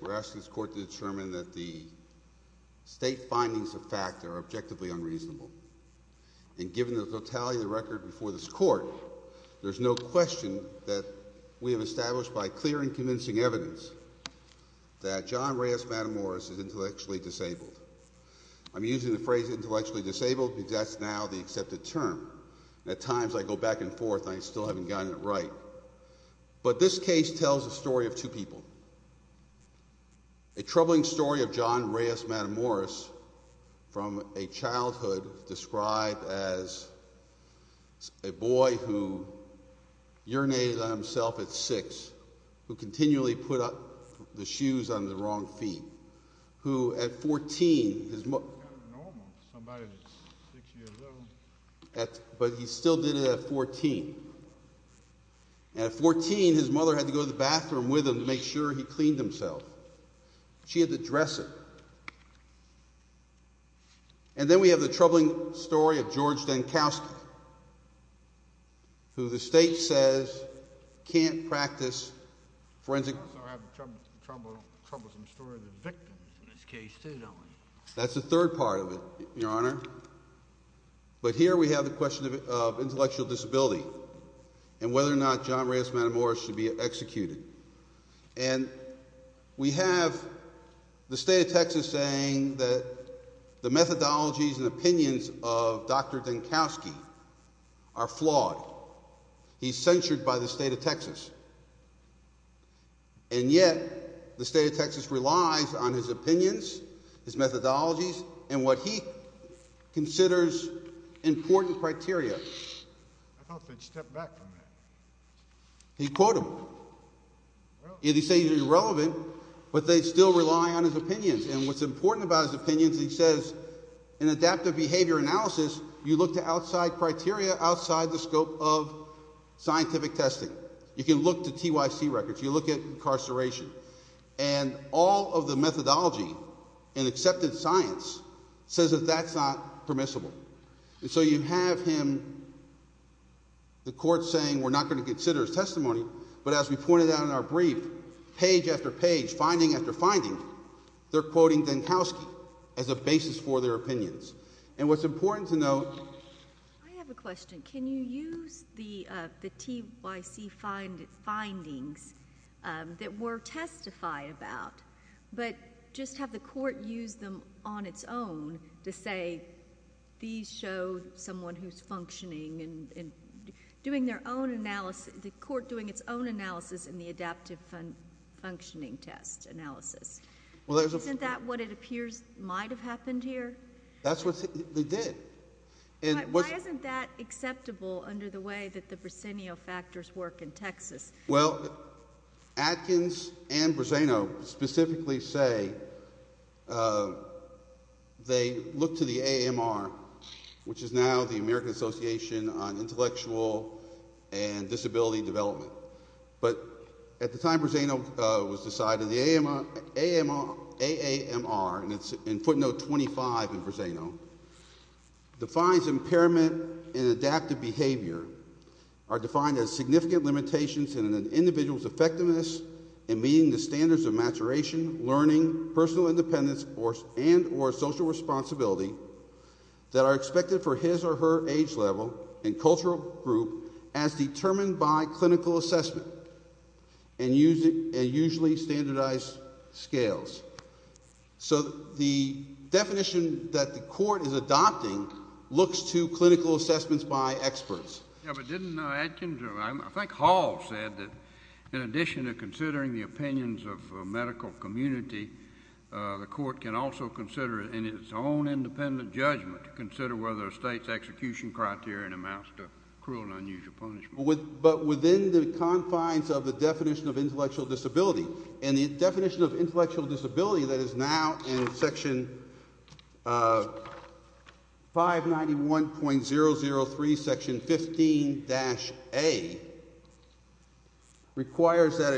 We're asking this court to determine that the state findings of fact are objectively unreasonable. And given the totality of the record before this court, there's no question that we have established by clear and convincing evidence that John Reyes Matamoros is intellectually disabled. I'm using the phrase intellectually disabled because that's now the accepted term. At times I go back and forth and I still haven't gotten it right. But this case tells a story of two people. A troubling story of John Reyes Matamoros from a childhood described as a boy who urinated on himself at 6, who continually put the shoes on the wrong feet, who at 14 But he still did it at 14. At 14, his mother had to go to the bathroom with him to make sure he cleaned himself. She had to dress him. And then we have the troubling story of George Denkowsky, who the state says can't practice forensic... I'm sorry, I have a troublesome story of the victims in this case too, don't I? That's the third part of it, Your Honor. But here we have the question of intellectual disability and whether or not John Reyes Matamoros should be executed. And we have the state of Texas saying that the methodologies and opinions of Dr. Denkowsky are flawed. He's censured by the state of Texas. And yet the state of Texas relies on his opinions, his methodologies, and what he considers important criteria. I thought they'd step back from that. He'd quote them. He'd say they're irrelevant, but they still rely on his opinions. And what's important about his opinions, he says, in adaptive behavior analysis, you look to outside criteria, outside the scope of scientific testing. You can look to TYC records. You look at incarceration. And all of the methodology in accepted science says that that's not permissible. And so you have him, the court saying we're not going to consider his testimony, but as we pointed out in our brief, page after page, finding after finding, they're quoting Denkowsky as a basis for their opinions. And what's important to note. I have a question. Can you use the TYC findings that were testified about, but just have the court use them on its own to say these show someone who's functioning and doing their own analysis, the court doing its own analysis in the adaptive functioning test analysis? Isn't that what it appears might have happened here? That's what they did. Why isn't that acceptable under the way that the Briseno factors work in Texas? Well, Atkins and Briseno specifically say they look to the AMR, which is now the American Association on Intellectual and Disability Development. But at the time Briseno was decided, the AAMR, and it's in footnote 25 in Briseno, defines impairment in adaptive behavior are defined as significant limitations in an individual's effectiveness in meeting the standards of maturation, learning, personal independence, and or social responsibility that are expected for his or her age level and cultural group as determined by clinical assessment. And usually standardized scales. So the definition that the court is adopting looks to clinical assessments by experts. Yeah, but didn't Atkins, I think Hall said that in addition to considering the opinions of medical community, the court can also consider it in its own independent judgment to consider whether a state's execution criterion amounts to cruel and unusual punishment. But within the confines of the definition of intellectual disability. And the definition of intellectual disability that is now in section 591.003 section 15-A requires that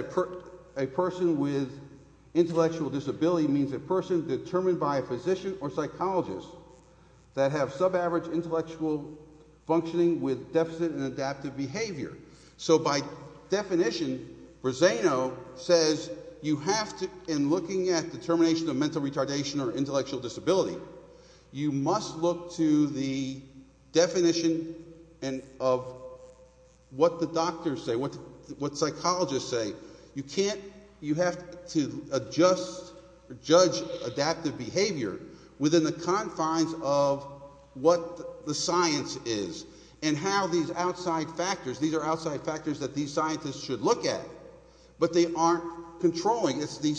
a person with intellectual disability means a person determined by a physician or psychologist that have subaverage intellectual functioning with deficit and adaptive behavior. So by definition, Briseno says you have to, in looking at determination of mental retardation or intellectual disability, you must look to the definition of what the doctors say, what psychologists say. You can't, you have to adjust, judge adaptive behavior within the confines of what the science is and how these outside factors, these are outside factors that these scientists should look at. But they aren't controlling. It's the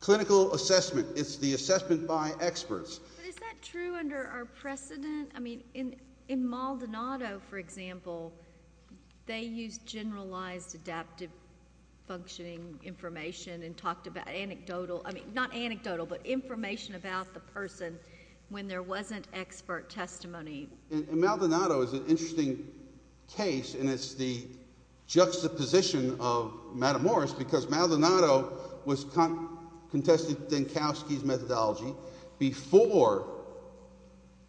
clinical assessment. It's the assessment by experts. But is that true under our precedent? I mean, in Maldonado, for example, they used generalized adaptive functioning information and talked about anecdotal, I mean, not anecdotal, but information about the person when there wasn't expert testimony. And Maldonado is an interesting case, and it's the juxtaposition of Madam Morris because Maldonado contested Denkowski's methodology before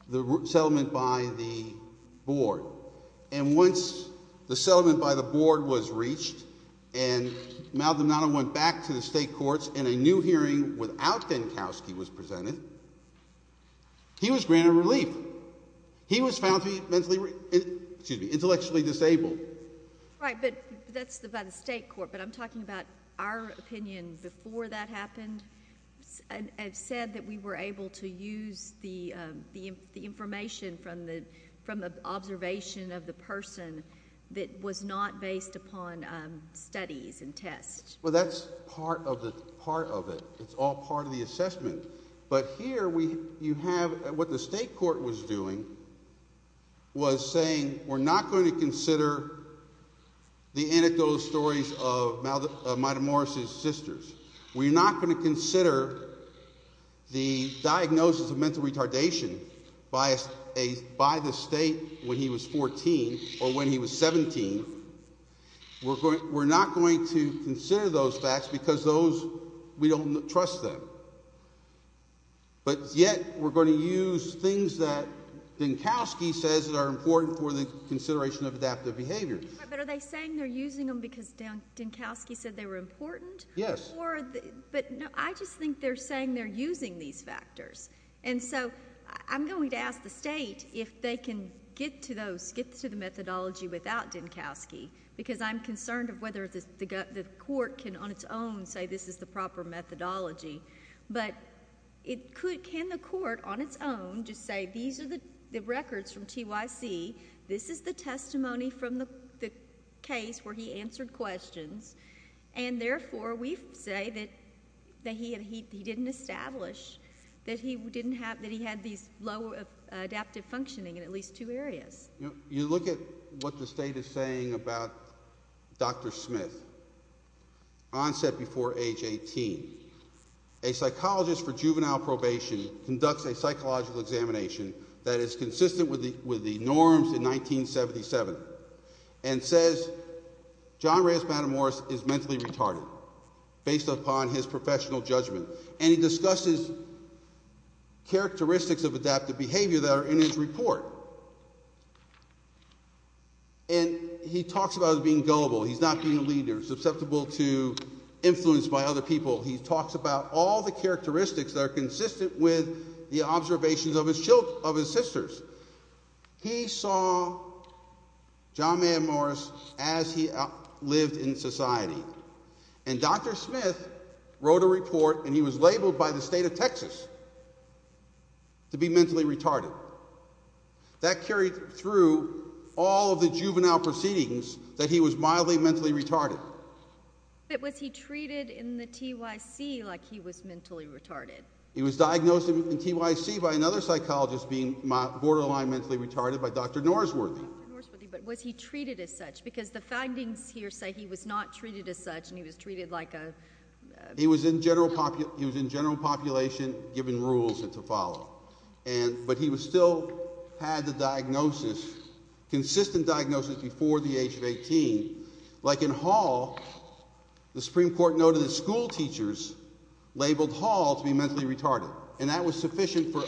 the settlement by the board. And once the settlement by the board was reached and Maldonado went back to the state courts and a new hearing without Denkowski was presented, he was granted relief. He was found to be intellectually disabled. Right, but that's by the state court. But I'm talking about our opinion before that happened. It said that we were able to use the information from the observation of the person that was not based upon studies and tests. Well, that's part of it. But here you have what the state court was doing was saying we're not going to consider the anecdotal stories of Madam Morris' sisters. We're not going to consider the diagnosis of mental retardation by the state when he was 14 or when he was 17. We're not going to consider those facts because we don't trust them. But yet we're going to use things that Denkowski says are important for the consideration of adaptive behavior. But are they saying they're using them because Denkowski said they were important? Yes. But I just think they're saying they're using these factors. And so I'm going to ask the state if they can get to the methodology without Denkowski because I'm concerned of whether the court can on its own say this is the proper methodology. But can the court on its own just say these are the records from TYC, this is the testimony from the case where he answered questions, and therefore we say that he didn't establish that he had these adaptive functioning in at least two areas. You look at what the state is saying about Dr. Smith, onset before age 18. A psychologist for juvenile probation conducts a psychological examination that is consistent with the norms in 1977 and says John Reyes Matamoros is mentally retarded based upon his professional judgment. And he discusses characteristics of adaptive behavior that are in his report. And he talks about being gullible. He's not being a leader, susceptible to influence by other people. He talks about all the characteristics that are consistent with the observations of his sisters. He saw John Matamoros as he lived in society. And Dr. Smith wrote a report and he was labeled by the state of Texas to be mentally retarded. That carried through all of the juvenile proceedings that he was mildly mentally retarded. But was he treated in the TYC like he was mentally retarded? He was diagnosed in TYC by another psychologist being borderline mentally retarded by Dr. Norsworthy. But was he treated as such because the findings here say he was not treated as such and he was treated like a He was in general population given rules to follow. But he still had the diagnosis, consistent diagnosis before the age of 18. Like in Hall, the Supreme Court noted that schoolteachers labeled Hall to be mentally retarded. And that was sufficient for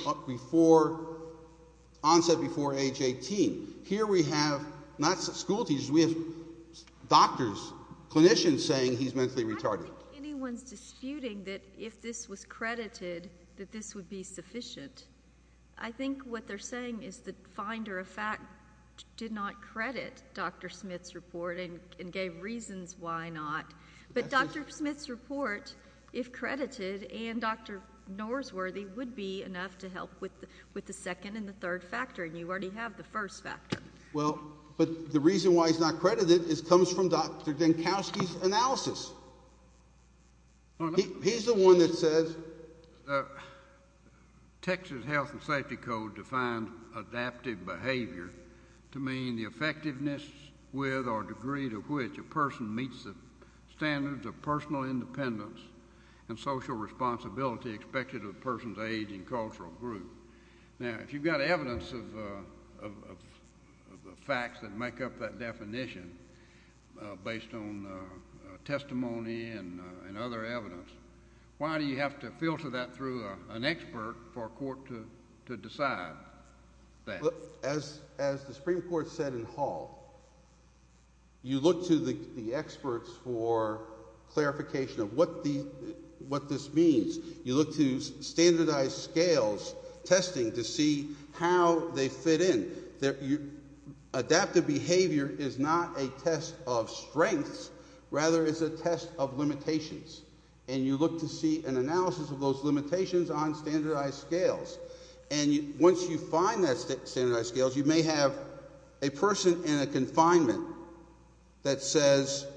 onset before age 18. Here we have not schoolteachers, we have doctors, clinicians saying he's mentally retarded. I don't think anyone's disputing that if this was credited that this would be sufficient. I think what they're saying is the finder of fact did not credit Dr. Smith's report and gave reasons why not. But Dr. Smith's report, if credited, and Dr. Norsworthy would be enough to help with the second and the third factor. And you already have the first factor. Well, but the reason why he's not credited comes from Dr. Denkowski's analysis. He's the one that says Texas Health and Safety Code defined adaptive behavior to mean the effectiveness with or degree to which a person meets the standards of personal independence and social responsibility expected of a person's age and cultural group. Now, if you've got evidence of facts that make up that definition based on testimony and other evidence, why do you have to filter that through an expert for a court to decide that? As the Supreme Court said in Hall, you look to the experts for clarification of what this means. You look to standardized scales testing to see how they fit in. Adaptive behavior is not a test of strengths, rather it's a test of limitations. And you look to see an analysis of those limitations on standardized scales. And once you find that standardized scales, you may have a person in a confinement that says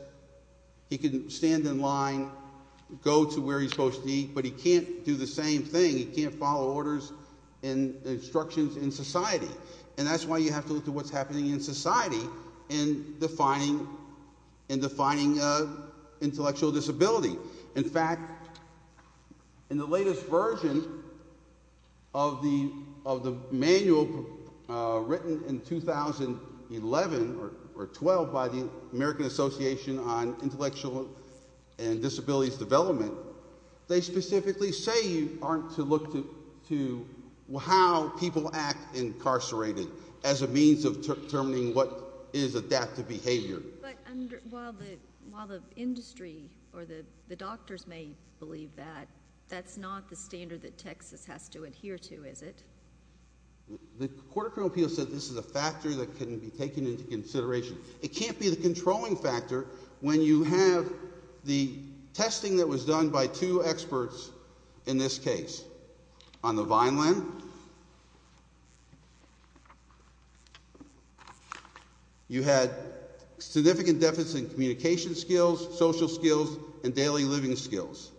he can stand in line, go to where he's supposed to be, but he can't do the same thing. He can't follow orders and instructions in society. And that's why you have to look to what's happening in society in defining intellectual disability. In fact, in the latest version of the manual written in 2011 or 12 by the American Association on Intellectual and Disabilities Development, they specifically say you aren't to look to how people act incarcerated as a means of determining what is adaptive behavior. While the industry or the doctors may believe that, that's not the standard that Texas has to adhere to, is it? The Court of Criminal Appeals said this is a factor that can be taken into consideration. It can't be the controlling factor when you have the testing that was done by two experts in this case. On the Vineland, you had significant deficits in communication skills, social skills, and daily living skills.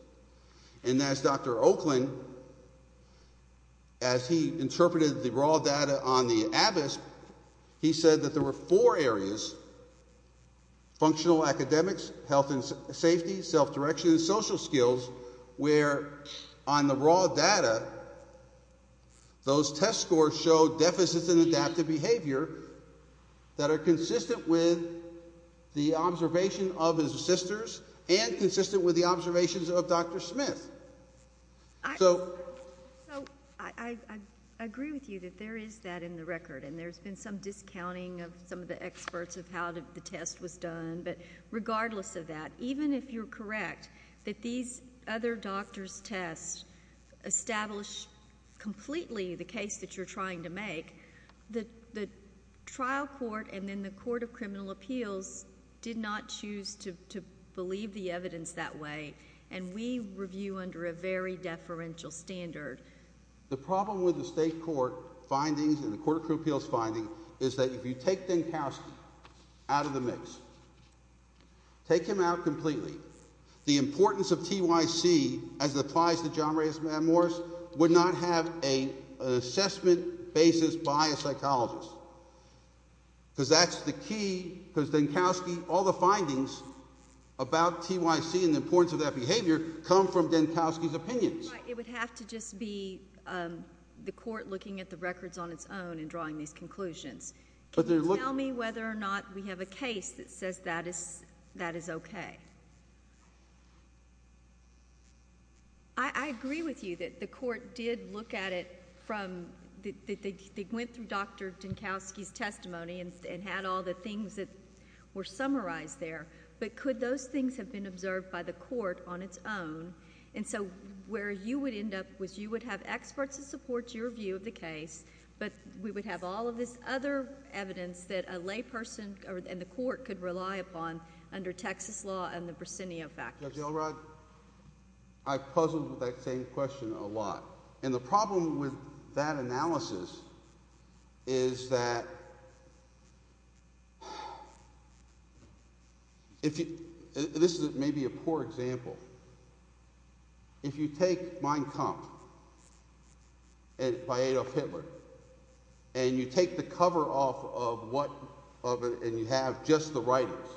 And as Dr. Oakland, as he interpreted the raw data on the Abbott's, he said that there were four areas, functional academics, health and safety, self-direction, and social skills, where on the raw data, those test scores show deficits in adaptive behavior that are consistent with the observation of his sisters and consistent with the observations of his siblings. So I agree with you that there is that in the record, and there's been some discounting of some of the experts of how the test was done, but regardless of that, even if you're correct that these other doctors' tests establish completely the case that you're trying to make, the trial court and then the Court of Criminal Appeals did not choose to believe the evidence that way. And we review under a very deferential standard. The problem with the state court findings and the Court of Criminal Appeals finding is that if you take Denkowsky out of the mix, take him out completely, the importance of TYC, as it applies to John Reyes and Matt Morris, would not have an assessment basis by a psychologist. Because that's the key, because Denkowsky, all the findings about TYC and the importance of that behavior come from Denkowsky's opinions. It would have to just be the court looking at the records on its own and drawing these conclusions. Can you tell me whether or not we have a case that says that is okay? I agree with you that the court did look at it from... they went through Dr. Denkowsky's testimony and had all the things that were summarized there. But could those things have been observed by the court on its own? And so where you would end up was you would have experts to support your view of the case, but we would have all of this other evidence that a layperson and the court could rely upon under Texas law and the Briseno factors. Judge Elrod, I've puzzled with that same question a lot. And the problem with that analysis is that... this may be a poor example. If you take Mein Kampf by Adolf Hitler, and you take the cover off of what... and you have just the writers,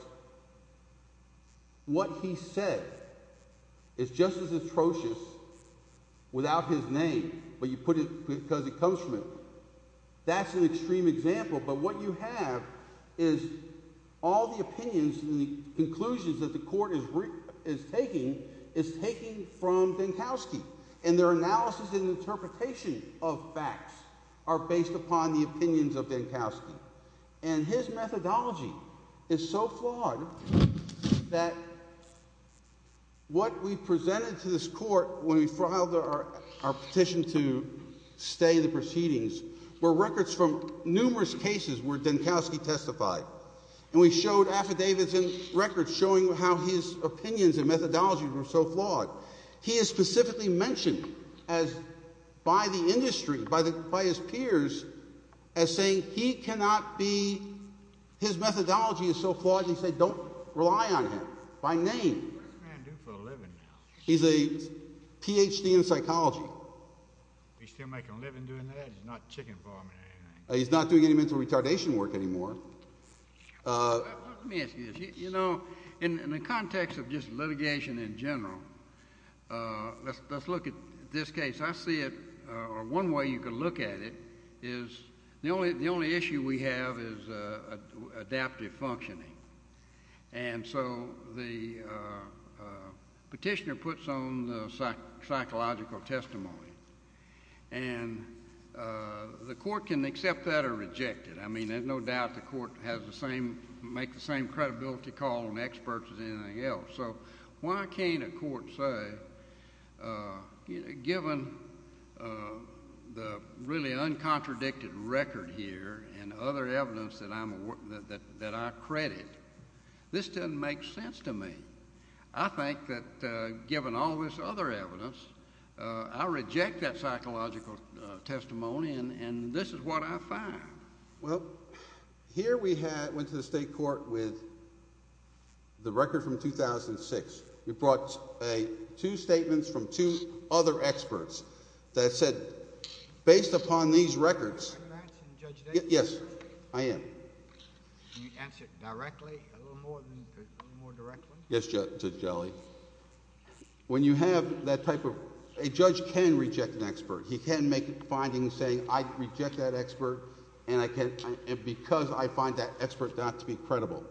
what he said is just as atrocious without his name, but you put it because it comes from him. That's an extreme example, but what you have is all the opinions and the conclusions that the court is taking is taken from Denkowsky. And their analysis and interpretation of facts are based upon the opinions of Denkowsky. And his methodology is so flawed that what we presented to this court when we filed our petition to stay the proceedings were records from numerous cases where Denkowsky testified. And we showed affidavits and records showing how his opinions and methodologies were so flawed. He is specifically mentioned as... by the industry, by his peers, as saying he cannot be... his methodology is so flawed that he said don't rely on him by name. He's a Ph.D. in psychology. He's still making a living doing that? He's not chicken farming or anything? He's not doing any mental retardation work anymore. Let me ask you this. You know, in the context of just litigation in general, let's look at this case. I see it... or one way you could look at it is the only issue we have is adaptive functioning. And so the petitioner puts on the psychological testimony, and the court can accept that or reject it. I mean, there's no doubt the court has the same... make the same credibility call on experts as anything else. So why can't a court say, given the really uncontradicted record here and other evidence that I'm... that I credit, this doesn't make sense to me? I think that given all this other evidence, I reject that psychological testimony, and this is what I find. Well, here we had... went to the state court with the record from 2006. We brought a... two statements from two other experts that said, based upon these records... Are you answering Judge Daly? Yes, I am. Can you answer it directly, a little more directly? Yes, Judge Daly. When you have that type of... a judge can reject an expert. He can make a finding saying, I reject that expert, and I can... and because I find that expert not to be credible.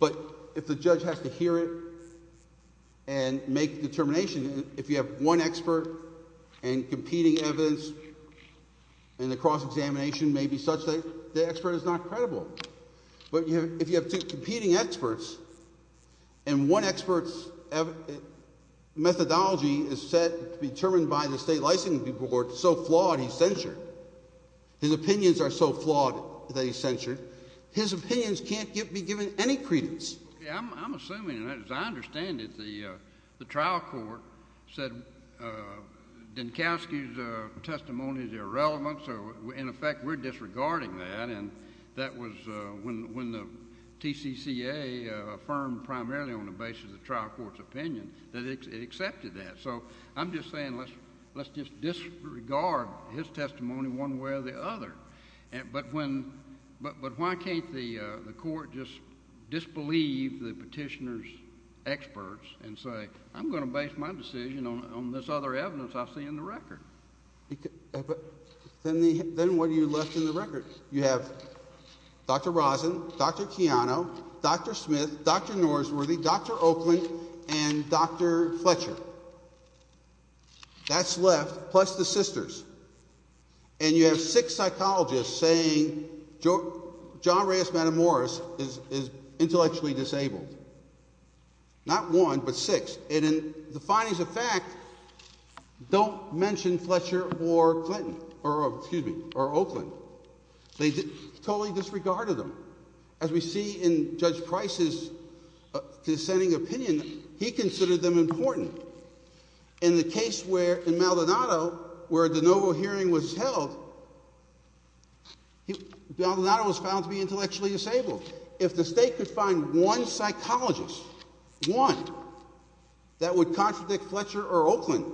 But, if the judge has to hear it and make a determination, if you have one expert and competing evidence, and the cross-examination may be such that the expert is not credible. But, if you have two competing experts, and one expert's methodology is said to be determined by the state licensing board, so flawed he's censured. His opinions are so flawed that he's censured. His opinions can't be given any credence. I'm assuming, and as I understand it, the trial court said Dinkowski's testimony is irrelevant, so in effect we're disregarding that. And that was when the TCCA affirmed primarily on the basis of the trial court's opinion that it accepted that. So, I'm just saying let's just disregard his testimony one way or the other. But when... but why can't the court just disbelieve the petitioner's experts and say, I'm going to base my decision on this other evidence I see in the record? Then what are you left in the record? You have Dr. Rosen, Dr. Chiano, Dr. Smith, Dr. Norsworthy, Dr. Oakland, and Dr. Fletcher. That's left, plus the sisters. And you have six psychologists saying John Reyes Matamoros is intellectually disabled. Not one, but six. And the findings of fact don't mention Fletcher or Clinton, or Oakland. They totally disregarded them. As we see in Judge Price's dissenting opinion, he considered them important. In the case where, in Maldonado, where the Novo hearing was held, Maldonado was found to be intellectually disabled. If the state could find one psychologist, one, that would contradict Fletcher or Oakland,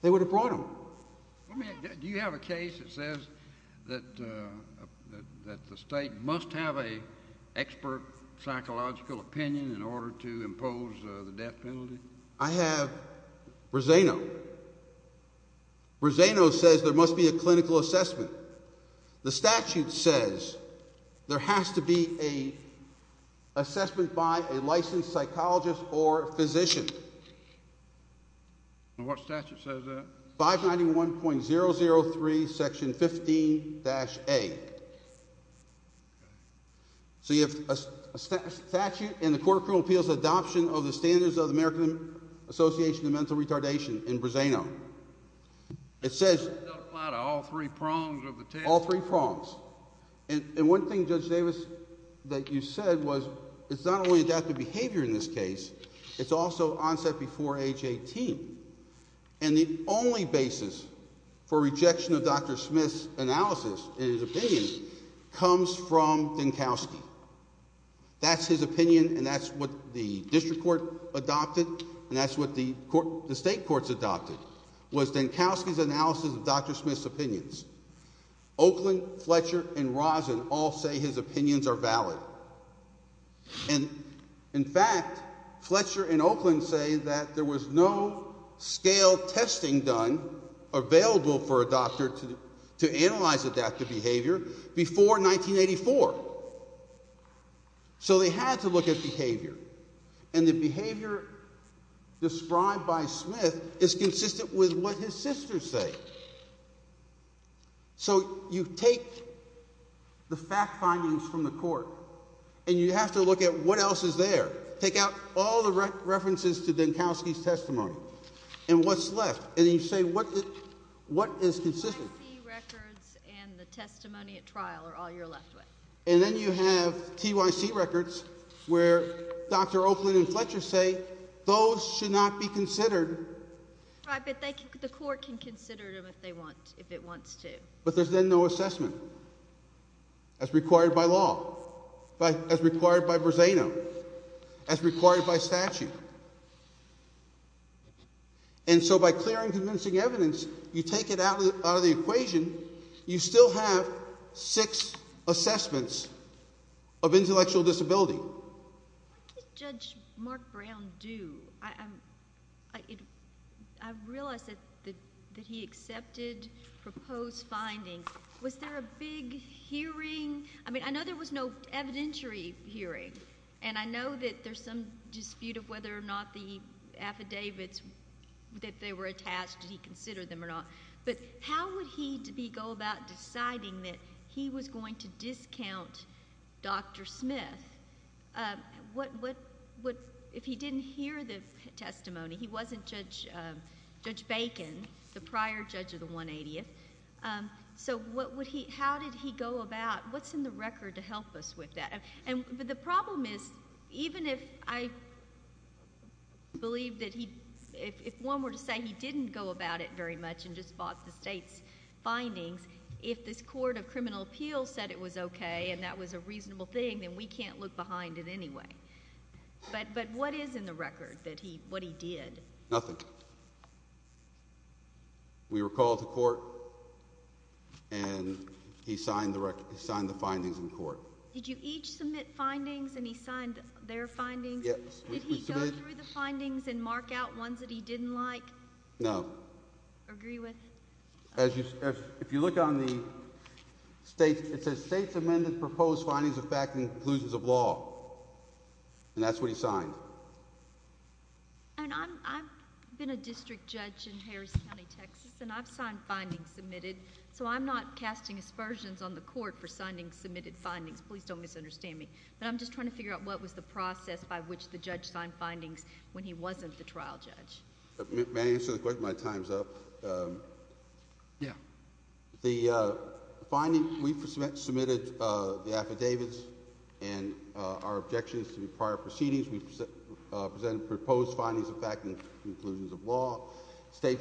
they would have brought them. Do you have a case that says that the state must have an expert psychological opinion in order to impose the death penalty? I have Roseno. Roseno says there must be a clinical assessment. The statute says there has to be an assessment by a licensed psychologist or physician. And what statute says that? 591.003, section 15-A. So you have a statute in the Court of Criminal Appeals adoption of the standards of the American Association of Mental Retardation in Roseno. It says— It doesn't apply to all three prongs of the table. All three prongs. And one thing, Judge Davis, that you said was it's not only adaptive behavior in this case. It's also onset before age 18. And the only basis for rejection of Dr. Smith's analysis and his opinion comes from Dinkowski. That's his opinion, and that's what the district court adopted, and that's what the state courts adopted, was Dinkowski's analysis of Dr. Smith's opinions. Oakland, Fletcher, and Roseno all say his opinions are valid. And, in fact, Fletcher and Oakland say that there was no scale testing done available for a doctor to analyze adaptive behavior before 1984. So they had to look at behavior. And the behavior described by Smith is consistent with what his sisters say. So you take the fact findings from the court, and you have to look at what else is there. Take out all the references to Dinkowski's testimony and what's left, and you say what is consistent. TYC records and the testimony at trial are all you're left with. And then you have TYC records where Dr. Oakland and Fletcher say those should not be considered. Right, but the court can consider them if it wants to. But there's then no assessment as required by law, as required by Roseno, as required by statute. And so by clearing convincing evidence, you take it out of the equation. You still have six assessments of intellectual disability. What did Judge Mark Brown do? I realize that he accepted proposed findings. Was there a big hearing? I mean, I know there was no evidentiary hearing. And I know that there's some dispute of whether or not the affidavits that they were attached, did he consider them or not. But how would he go about deciding that he was going to discount Dr. Smith if he didn't hear the testimony? He wasn't Judge Bacon, the prior judge of the 180th. So how did he go about—what's in the record to help us with that? But the problem is, even if I believe that he—if one were to say he didn't go about it very much and just bought the state's findings, if this court of criminal appeals said it was okay and that was a reasonable thing, then we can't look behind it anyway. But what is in the record that he—what he did? Nothing. We were called to court, and he signed the findings in court. Did you each submit findings and he signed their findings? Yes. Did he go through the findings and mark out ones that he didn't like? No. Agree with? As you—if you look on the state—it says states amended proposed findings of fact and conclusions of law. And that's what he signed. And I've been a district judge in Harris County, Texas, and I've signed findings submitted. So I'm not casting aspersions on the court for signing submitted findings. Please don't misunderstand me. But I'm just trying to figure out what was the process by which the judge signed findings when he wasn't the trial judge. May I answer the question? My time's up. Yeah. The finding—we submitted the affidavits, and our objection is to be prior proceedings. We presented proposed findings of fact and conclusions of law. The state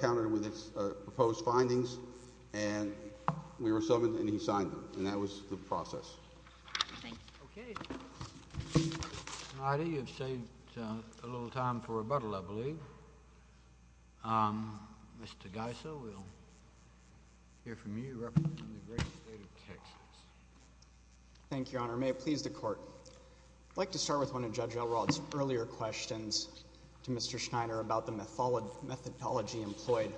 countered with its proposed findings, and we were summoned, and he signed them. And that was the process. Thanks. Okay. All righty. You've saved a little time for rebuttal, I believe. Mr. Geisel, we'll hear from you representing the great state of Texas. Thank you, Your Honor. May it please the Court. I'd like to start with one of Judge Elrod's earlier questions to Mr. Schneider about the methodology employed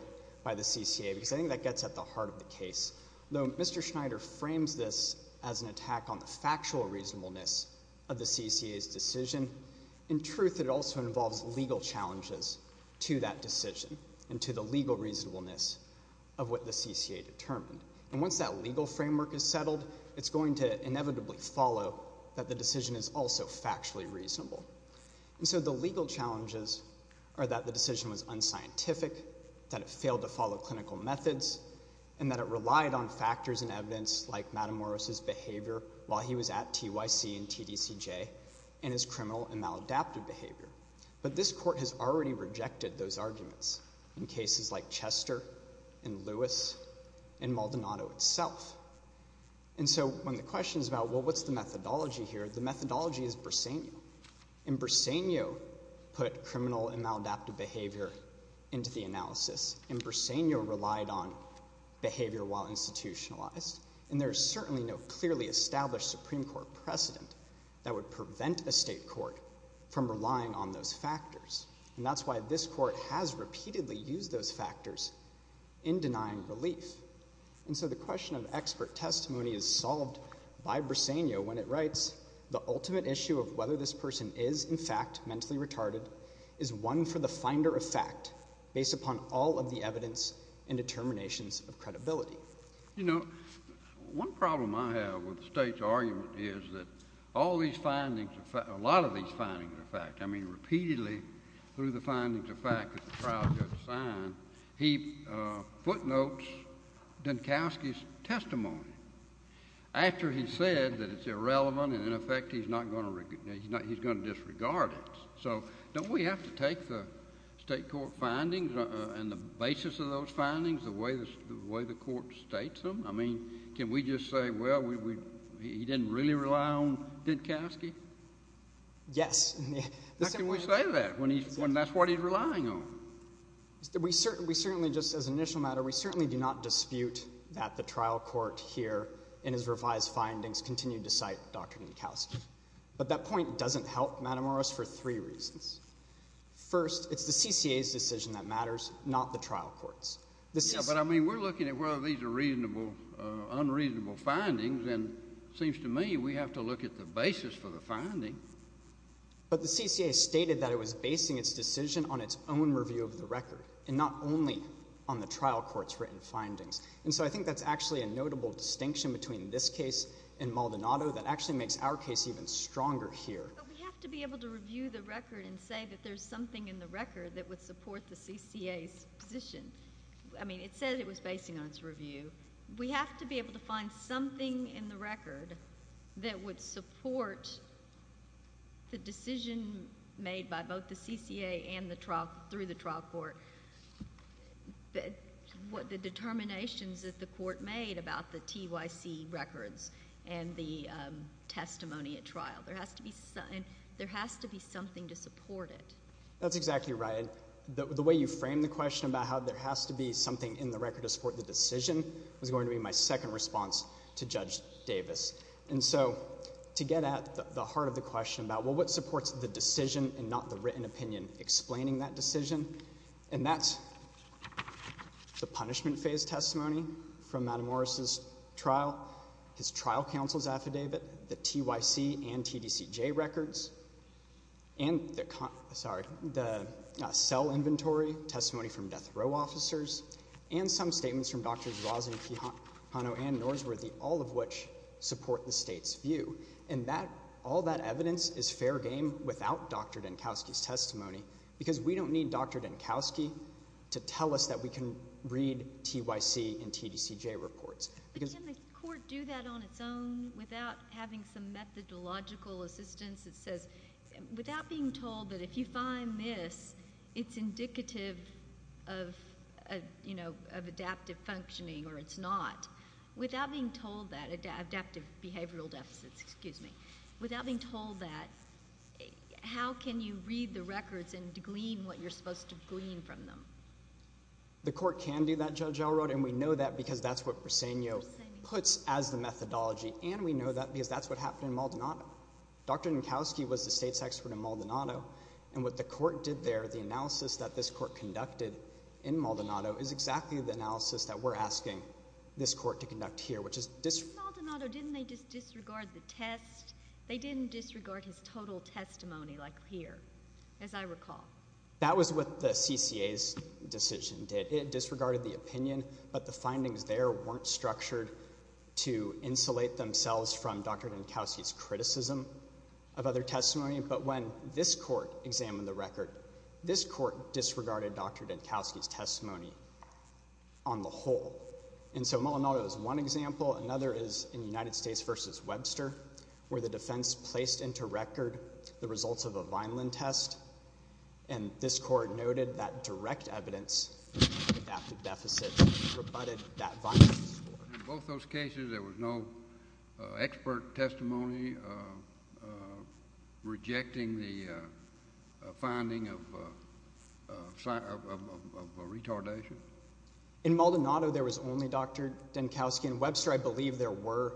by the CCA, because I think that gets at the heart of the case. Though Mr. Schneider frames this as an attack on the factual reasonableness of the CCA's decision, in truth, it also involves legal challenges to that decision and to the legal reasonableness of what the CCA determined. And once that legal framework is settled, it's going to inevitably follow that the decision is also factually reasonable. And so the legal challenges are that the decision was unscientific, that it failed to follow clinical methods, and that it relied on factors and evidence like Madam Morris's behavior while he was at TYC and TDCJ, and his criminal and maladaptive behavior. But this Court has already rejected those arguments in cases like Chester and Lewis and Maldonado itself. And so when the question is about, well, what's the methodology here, the methodology is Bersenio. And Bersenio put criminal and maladaptive behavior into the analysis, and Bersenio relied on behavior while institutionalized. And there is certainly no clearly established Supreme Court precedent that would prevent a state court from relying on those factors. And that's why this Court has repeatedly used those factors in denying relief. And so the question of expert testimony is solved by Bersenio when it writes, the ultimate issue of whether this person is, in fact, mentally retarded is one for the finder of fact based upon all of the evidence and determinations of credibility. Well, you know, one problem I have with the state's argument is that all these findings, a lot of these findings are fact. I mean, repeatedly through the findings of fact that the trial judge signed, he footnotes Dinkowski's testimony. After he said that it's irrelevant and, in effect, he's going to disregard it. So don't we have to take the state court findings and the basis of those findings the way the Court states them? I mean, can we just say, well, he didn't really rely on Dinkowski? Yes. How can we say that when that's what he's relying on? We certainly, just as an initial matter, we certainly do not dispute that the trial court here in his revised findings continued to cite Dr. Dinkowski. But that point doesn't help, Madam Morris, for three reasons. First, it's the CCA's decision that matters, not the trial court's. Yeah, but, I mean, we're looking at whether these are reasonable or unreasonable findings, and it seems to me we have to look at the basis for the finding. But the CCA stated that it was basing its decision on its own review of the record and not only on the trial court's written findings. And so I think that's actually a notable distinction between this case and Maldonado that actually makes our case even stronger here. But we have to be able to review the record and say that there's something in the record that would support the CCA's position. I mean, it says it was basing on its review. We have to be able to find something in the record that would support the decision made by both the CCA and through the trial court, the determinations that the court made about the TYC records and the testimony at trial. There has to be something to support it. That's exactly right. The way you framed the question about how there has to be something in the record to support the decision was going to be my second response to Judge Davis. And so to get at the heart of the question about, well, what supports the decision and not the written opinion explaining that decision, and that's the punishment phase testimony from Madam Morris' trial, his trial counsel's affidavit, the TYC and TDCJ records, and the cell inventory testimony from death row officers, and some statements from Drs. Rosen, Quijano, and Norsworthy, all of which support the state's view. And all that evidence is fair game without Dr. Dinkowski's testimony because we don't need Dr. Dinkowski to tell us that we can read TYC and TDCJ reports. But can the court do that on its own without having some methodological assistance that says without being told that if you find this, it's indicative of adaptive functioning or it's not, without being told that adaptive behavioral deficits, without being told that, how can you read the records and glean what you're supposed to glean from them? The court can do that, Judge Elrod, and we know that because that's what Briseño puts as the methodology, and we know that because that's what happened in Maldonado. Dr. Dinkowski was the state's expert in Maldonado, and what the court did there, the analysis that this court conducted in Maldonado, is exactly the analysis that we're asking this court to conduct here. Maldonado, didn't they just disregard the test? They didn't disregard his total testimony like here, as I recall. That was what the CCA's decision did. It disregarded the opinion, but the findings there weren't structured to insulate themselves from Dr. Dinkowski's criticism of other testimony. But when this court examined the record, this court disregarded Dr. Dinkowski's testimony on the whole. And so Maldonado is one example. Another is in United States v. Webster, where the defense placed into record the results of a Vineland test, and this court noted that direct evidence of an adaptive deficit rebutted that Vineland report. In both those cases, there was no expert testimony rejecting the finding of retardation? In Maldonado, there was only Dr. Dinkowski. In Webster, I believe there were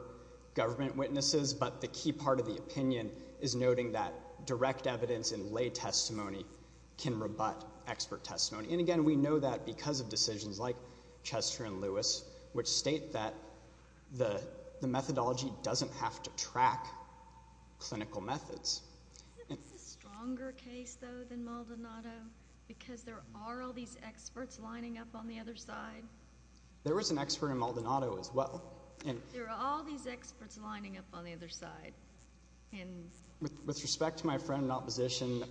government witnesses, but the key part of the opinion is noting that direct evidence in lay testimony can rebut expert testimony. And again, we know that because of decisions like Chester and Lewis, which state that the methodology doesn't have to track clinical methods. It's a stronger case, though, than Maldonado, because there are all these experts lining up on the other side. There was an expert in Maldonado as well. There are all these experts lining up on the other side. With respect to my friend in opposition,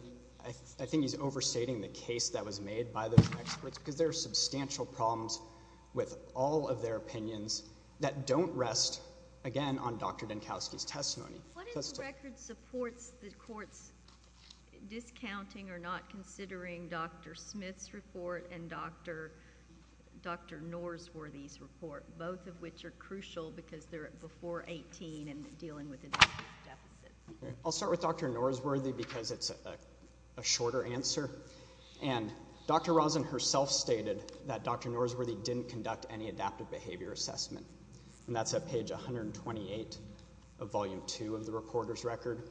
I think he's overstating the case that was made by those experts because there are substantial problems with all of their opinions that don't rest, again, on Dr. Dinkowski's testimony. What is the record supports the court's discounting or not considering Dr. Smith's report and Dr. Norsworthy's report, both of which are crucial because they're before 18 and dealing with adaptive deficits? I'll start with Dr. Norsworthy because it's a shorter answer. Dr. Rosen herself stated that Dr. Norsworthy didn't conduct any adaptive behavior assessment, and that's at page 128 of volume 2 of the reporter's record.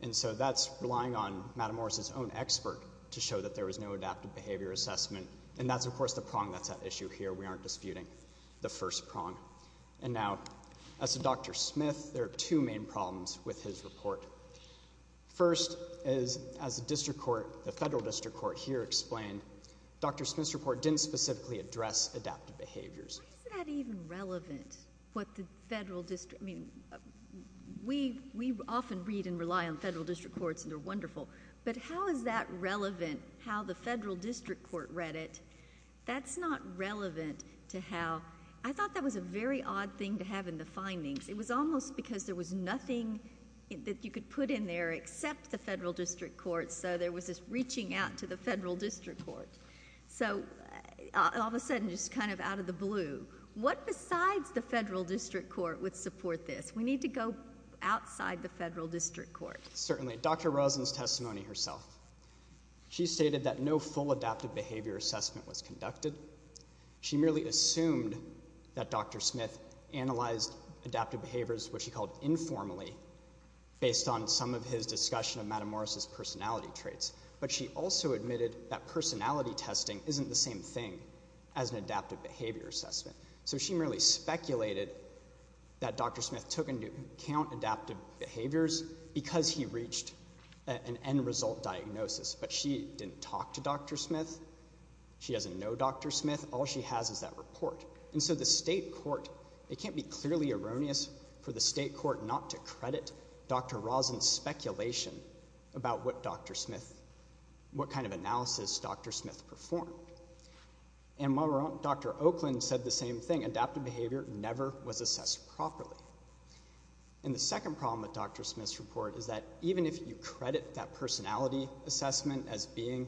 And so that's relying on Madam Morris's own expert to show that there was no adaptive behavior assessment, and that's, of course, the prong that's at issue here. We aren't disputing the first prong. And now, as to Dr. Smith, there are two main problems with his report. First is, as the federal district court here explained, Dr. Smith's report didn't specifically address adaptive behaviors. Why is that even relevant, what the federal district... I mean, we often read and rely on federal district courts, and they're wonderful, but how is that relevant, how the federal district court read it? That's not relevant to how... I thought that was a very odd thing to have in the findings. It was almost because there was nothing that you could put in there except the federal district court, so there was this reaching out to the federal district court. So, all of a sudden, just kind of out of the blue, what besides the federal district court would support this? We need to go outside the federal district court. Certainly. Dr. Rosen's testimony herself. She stated that no full adaptive behavior assessment was conducted. She merely assumed that Dr. Smith analyzed adaptive behaviors, what she called informally, based on some of his discussion of Madam Morris's personality traits. But she also admitted that personality testing isn't the same thing as an adaptive behavior assessment. So she merely speculated that Dr. Smith took into account adaptive behaviors because he reached an end result diagnosis. But she didn't talk to Dr. Smith. She doesn't know Dr. Smith. All she has is that report. And so the state court... It can't be clearly erroneous for the state court not to credit Dr. Rosen's speculation about what Dr. Smith... what kind of analysis Dr. Smith performed. And while Dr. Oakland said the same thing, adaptive behavior never was assessed properly. And the second problem with Dr. Smith's report is that even if you credit that personality assessment as being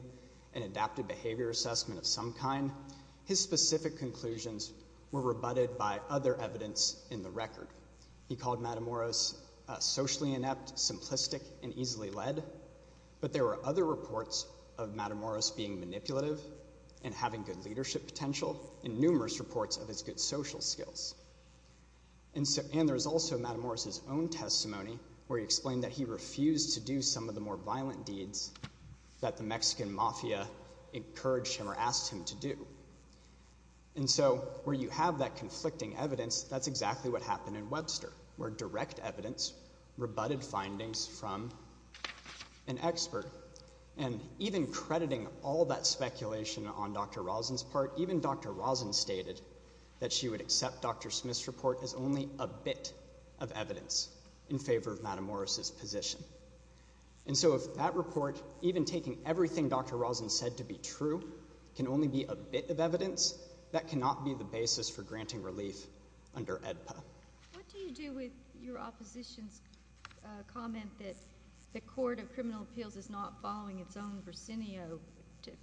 an adaptive behavior assessment of some kind, his specific conclusions were rebutted by other evidence in the record. He called Madam Morris socially inept, simplistic, and easily led. But there were other reports of Madam Morris being manipulative and having good leadership potential, and numerous reports of his good social skills. And there's also Madam Morris's own testimony where he explained that he refused to do some of the more violent deeds that the Mexican mafia encouraged him or asked him to do. And so where you have that conflicting evidence, that's exactly what happened in Webster, where direct evidence rebutted findings from an expert. And even crediting all that speculation on Dr. Rosen's part, even Dr. Rosen stated that she would accept Dr. Smith's report as only a bit of evidence in favor of Madam Morris's position. And so if that report, even taking everything Dr. Rosen said to be true, can only be a bit of evidence, that cannot be the basis for granting relief under AEDPA. What do you do with your opposition's comment that the Court of Criminal Appeals is not following its own Brasenio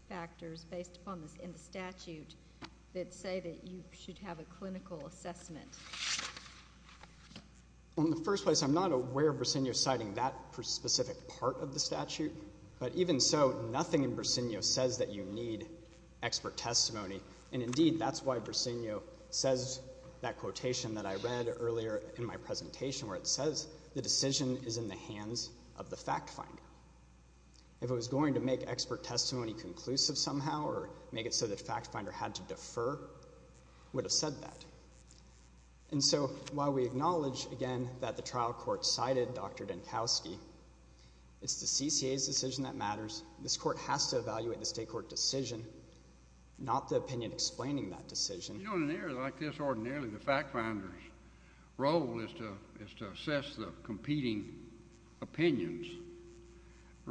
factors based upon this in the statute that say that you should have a clinical assessment? Well, in the first place, I'm not aware of Brasenio citing that specific part of the statute. But even so, nothing in Brasenio says that you need expert testimony and, indeed, that's why Brasenio says that quotation that I read earlier in my presentation, where it says the decision is in the hands of the fact finder. If it was going to make expert testimony conclusive somehow or make it so the fact finder had to defer, it would have said that. And so while we acknowledge, again, that the trial court cited Dr. Dinkowski, it's the CCA's decision that matters. This court has to evaluate the state court decision, not the opinion explaining that decision. You know, in an area like this, ordinarily the fact finder's role is to assess the competing opinions.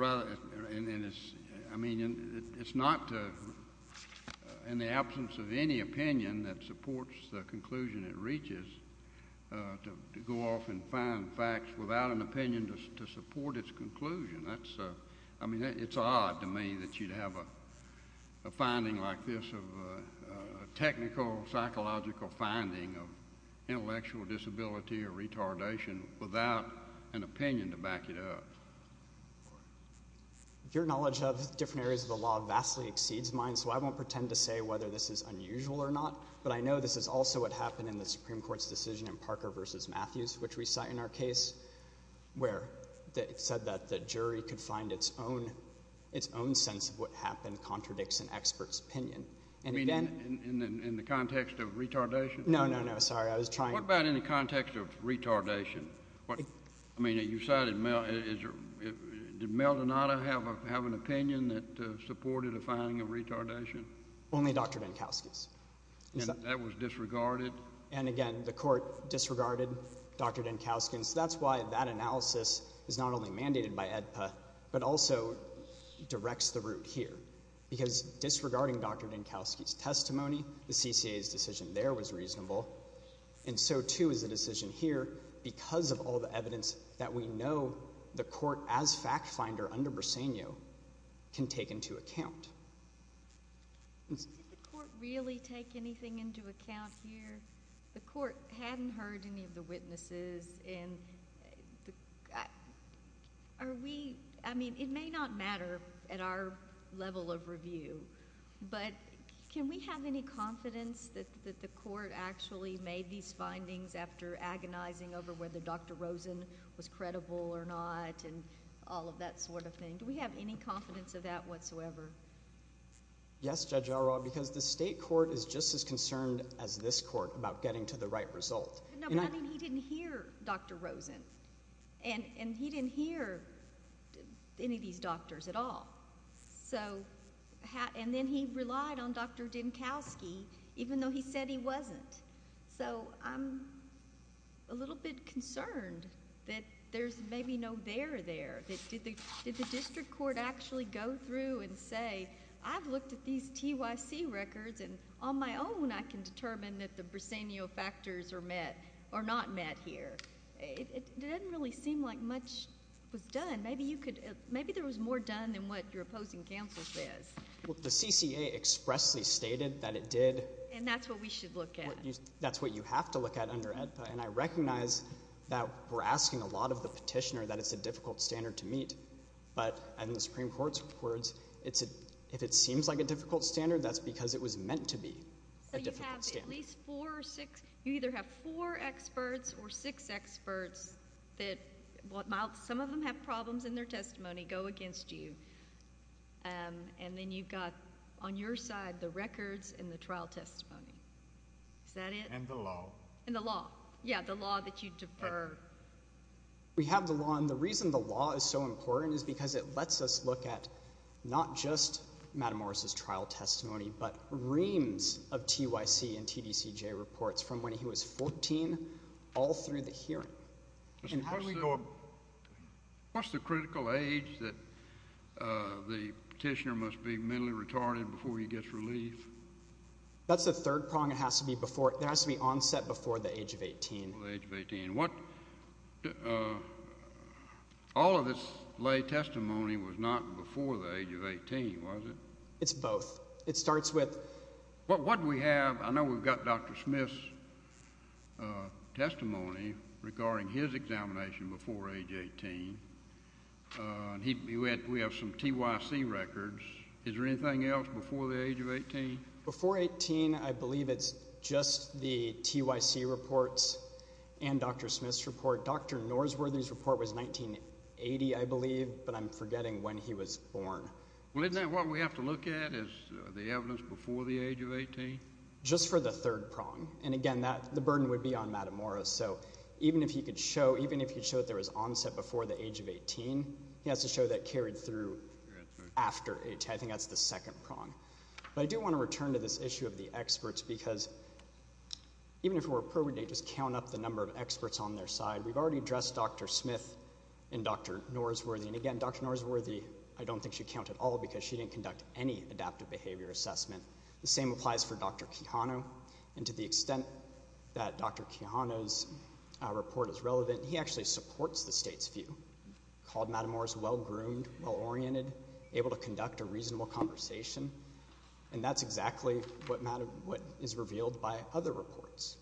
I mean, it's not in the absence of any opinion that supports the conclusion it reaches to go off and find facts without an opinion to support its conclusion. I mean, it's odd to me that you'd have a finding like this, a technical, psychological finding of intellectual disability or retardation without an opinion to back it up. Your knowledge of different areas of the law vastly exceeds mine, so I won't pretend to say whether this is unusual or not, but I know this is also what happened in the Supreme Court's decision in Parker v. Matthews, which we cite in our case, where it said that the jury could find its own sense of what happened contradicts an expert's opinion. I mean, in the context of retardation? No, no, no. Sorry. I was trying to— What about in the context of retardation? I mean, you cited Mel— did Mel Donato have an opinion that supported a finding of retardation? Only Dr. Dinkowski's. And that was disregarded? And again, the court disregarded Dr. Dinkowski's. That's why that analysis is not only mandated by AEDPA, but also directs the root here, because disregarding Dr. Dinkowski's testimony, the CCA's decision there was reasonable, and so, too, is the decision here because of all the evidence that we know the court, as fact finder under Briseño, can take into account. Did the court really take anything into account here? The court hadn't heard any of the witnesses and are we— I mean, it may not matter at our level of review, but can we have any confidence that the court actually made these findings after agonizing over whether Dr. Rosen was credible or not and all of that sort of thing? Do we have any confidence of that whatsoever? Yes, Judge Elroy, because the state court is just as concerned as this court about getting to the right result. No, but I mean, he didn't hear Dr. Rosen and he didn't hear any of these doctors at all. And then he relied on Dr. Dinkowski even though he said he wasn't. So I'm a little bit concerned that there's maybe no there there. Did the district court actually go through and say, I've looked at these TYC records and on my own I can determine that the Briseno factors are met or not met here? It doesn't really seem like much was done. Maybe there was more done than what your opposing counsel says. Well, the CCA expressly stated that it did. And that's what we should look at. That's what you have to look at under AEDPA. And I recognize that we're asking a lot of the petitioner that it's a difficult standard to meet. But in the Supreme Court's words, if it seems like a difficult standard, that's because it was meant to be a difficult standard. So you have at least four or six, you either have four experts or six experts that, some of them have problems in their testimony, go against you. And then you've got on your side the records and the trial testimony. Is that it? And the law. And the law. Yeah, the law that you defer. We have the law. And the reason the law is so important is because it lets us look at not just Madam Morris's trial testimony, but reams of TYC and TDCJ reports from when he was 14 all through the hearing. And how do we go about... What's the critical age that the petitioner must be mentally retarded before he gets relief? That's the third prong. There has to be onset before the age of 18. Before the age of 18. All of this lay testimony was not before the age of 18, was it? It's both. It starts with... What do we have? I know we've got Dr. Smith's testimony regarding his examination before age 18. We have some TYC records. Is there anything else before the age of 18? Before 18, I believe it's just the TYC reports and Dr. Smith's report. Dr. Norsworthy's report was 1980, I believe, but I'm forgetting when he was born. Well, isn't that what we have to look at is the evidence before the age of 18? Just for the third prong. And again, the burden would be on Madam Morris. So even if he could show, even if he showed there was onset before the age of 18, he has to show that carried through after 18. I think that's the second prong. But I do want to return to this issue of the experts because even if it were appropriate to just count up the number of experts on their side, we've already addressed Dr. Smith and Dr. Norsworthy. And again, Dr. Norsworthy, I don't think she'd count at all because she didn't conduct any adaptive behavior assessment. The same applies for Dr. Quijano. And to the extent that Dr. Quijano's report is relevant, he actually supports the state's view, called Madam Morris well-groomed, well-oriented, able to conduct a reasonable conversation. And that's exactly what is revealed by other reports.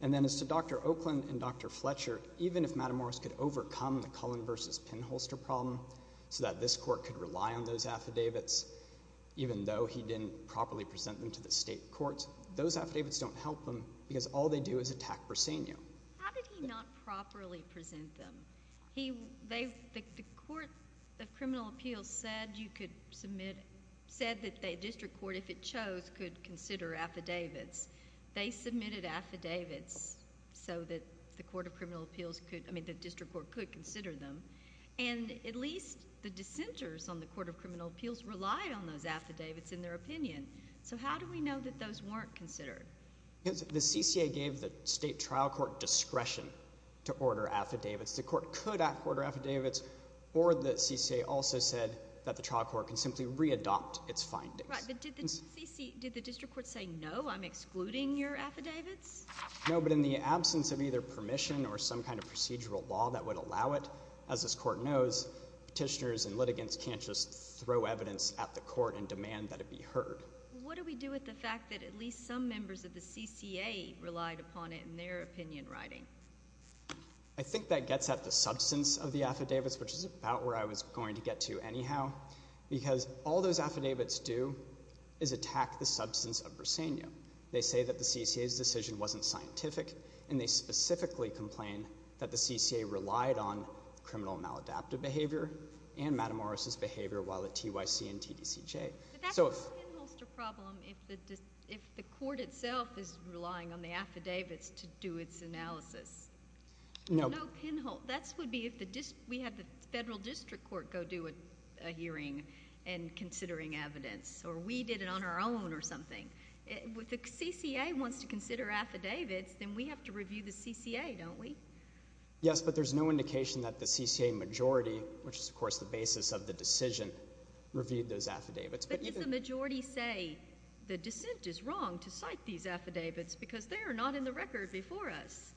And then as to Dr. Oakland and Dr. Fletcher, even if Madam Morris could overcome the Cullen v. Pinholster problem so that this court could rely on those affidavits even though he didn't properly present them to the state courts, those affidavits don't help them because all they do is attack Briseño. How did he not properly present them? The Court of Criminal Appeals said you could submit... The district court, if it chose, could consider affidavits. They submitted affidavits so that the Court of Criminal Appeals could... I mean, the district court could consider them. And at least the dissenters on the Court of Criminal Appeals relied on those affidavits in their opinion. So how do we know that those weren't considered? The CCA gave the state trial court discretion to order affidavits. The court could order affidavits, or the CCA also said that the trial court can simply re-adopt its findings. Right, but did the district court say, no, I'm excluding your affidavits? No, but in the absence of either permission or some kind of procedural law that would allow it, as this court knows, petitioners and litigants can't just throw evidence at the court and demand that it be heard. What do we do with the fact that at least some members of the CCA relied upon it in their opinion writing? I think that gets at the substance of the affidavits, which is about where I was going to get to anyhow, because all those affidavits do is attack the substance of Briseño. They say that the CCA's decision wasn't scientific, and they specifically complain that the CCA relied on criminal maladaptive behavior and Madam Morris' behavior while at TYC and TDCJ. But that's a pinholster problem if the court itself is relying on the affidavits to do its analysis. No. That would be if we had the federal district court go do a hearing and considering evidence, or we did it on our own or something. If the CCA wants to consider affidavits, then we have to review the CCA, don't we? Yes, but there's no indication that the CCA majority, which is, of course, the basis of the decision, reviewed those affidavits. But if the majority say the dissent is wrong to cite these affidavits because they are not in the record before us.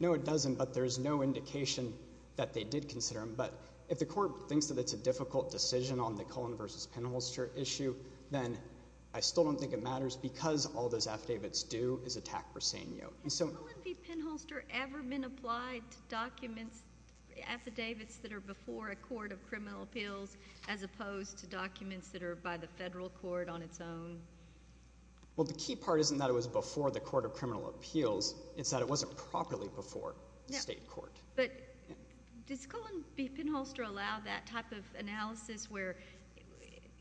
No, it doesn't, but there's no indication that they did consider them. But if the court thinks that it's a difficult decision on the Cullen v. Pinholster issue, then I still don't think it matters because all those affidavits do is attack Briseño. Has a Cullen v. Pinholster ever been applied to documents, affidavits that are before a court of criminal appeals as opposed to documents that are by the federal court on its own? Well, the key part isn't that it was before the court of criminal appeals. It's that it wasn't properly before the state court. But does Cullen v. Pinholster allow that type of analysis where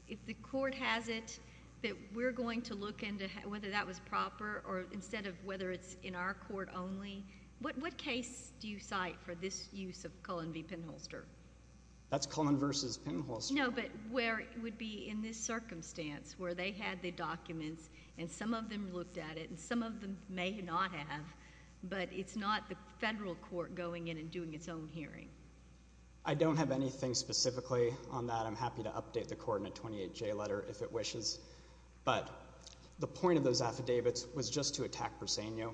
if the court has it, that we're going to look into whether that was proper or instead of whether it's in our court only? What case do you cite for this use of Cullen v. Pinholster? That's Cullen v. Pinholster. No, but where it would be in this circumstance where they had the documents and some of them looked at it and some of them may not have, but it's not the federal court going in and doing its own hearing. I don't have anything specifically on that. I'm happy to update the Coordinate 28J letter if it wishes. But the point of those affidavits was just to attack Briseño.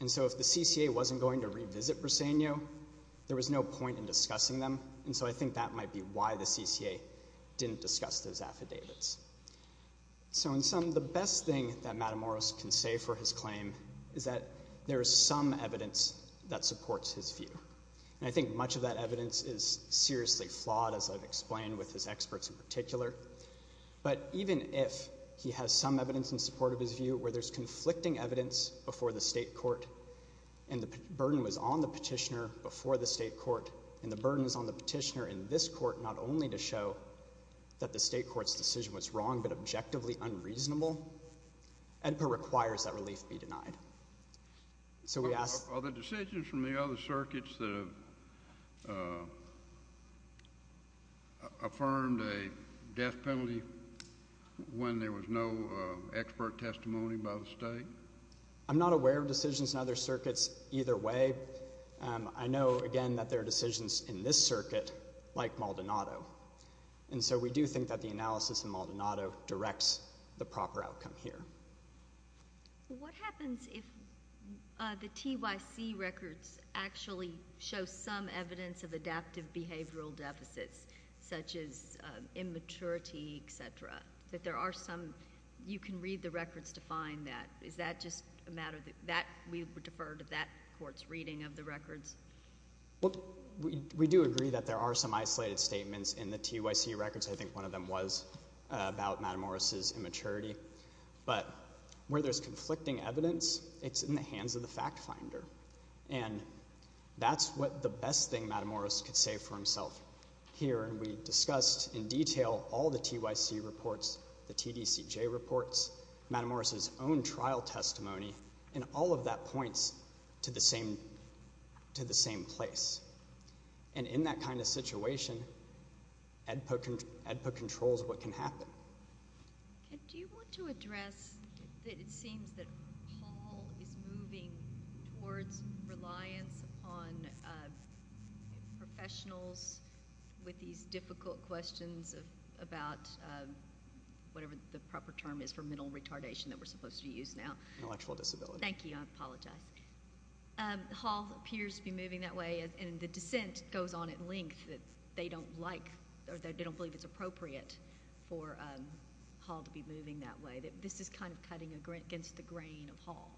And so if the CCA wasn't going to revisit Briseño, there was no point in discussing them. And so I think that might be why the CCA didn't discuss those affidavits. So in sum, the best thing that Matt Amoros can say for his claim is that there is some evidence that supports his view. And I think much of that evidence is seriously flawed, as I've explained with his experts in particular. But even if he has some evidence in support of his view where there's conflicting evidence before the state court and the burden was on the petitioner before the state court and the burden is on the petitioner in this court not only to show that the state court's decision was wrong but objectively unreasonable, EDPA requires that relief be denied. Are the decisions from the other circuits that have affirmed a death penalty when there was no expert testimony by the state? I'm not aware of decisions in other circuits either way. I know, again, that there are decisions in this circuit like Maldonado. And so we do think that the analysis in Maldonado directs the proper outcome here. What happens if the TYC records actually show some evidence of adaptive behavioral deficits, such as immaturity, et cetera, that there are some... you can read the records to find that? Is that just a matter of... we defer to that court's reading of the records? Well, we do agree that there are some isolated statements in the TYC records. I think one of them was about Matamoros' immaturity. But where there's conflicting evidence, it's in the hands of the fact finder. And that's what the best thing Matamoros could say for himself here. And we discussed in detail all the TYC reports, the TDCJ reports, Matamoros' own trial testimony, and all of that points to the same place. And in that kind of situation, AEDPA controls what can happen. Do you want to address... it seems that Paul is moving towards reliance on professionals with these difficult questions about whatever the proper term is for mental retardation that we're supposed to use now. Intellectual disability. Thank you. I apologize. Hall appears to be moving that way, and the dissent goes on at length that they don't like or they don't believe it's appropriate for Hall to be moving that way. This is kind of cutting against the grain of Hall.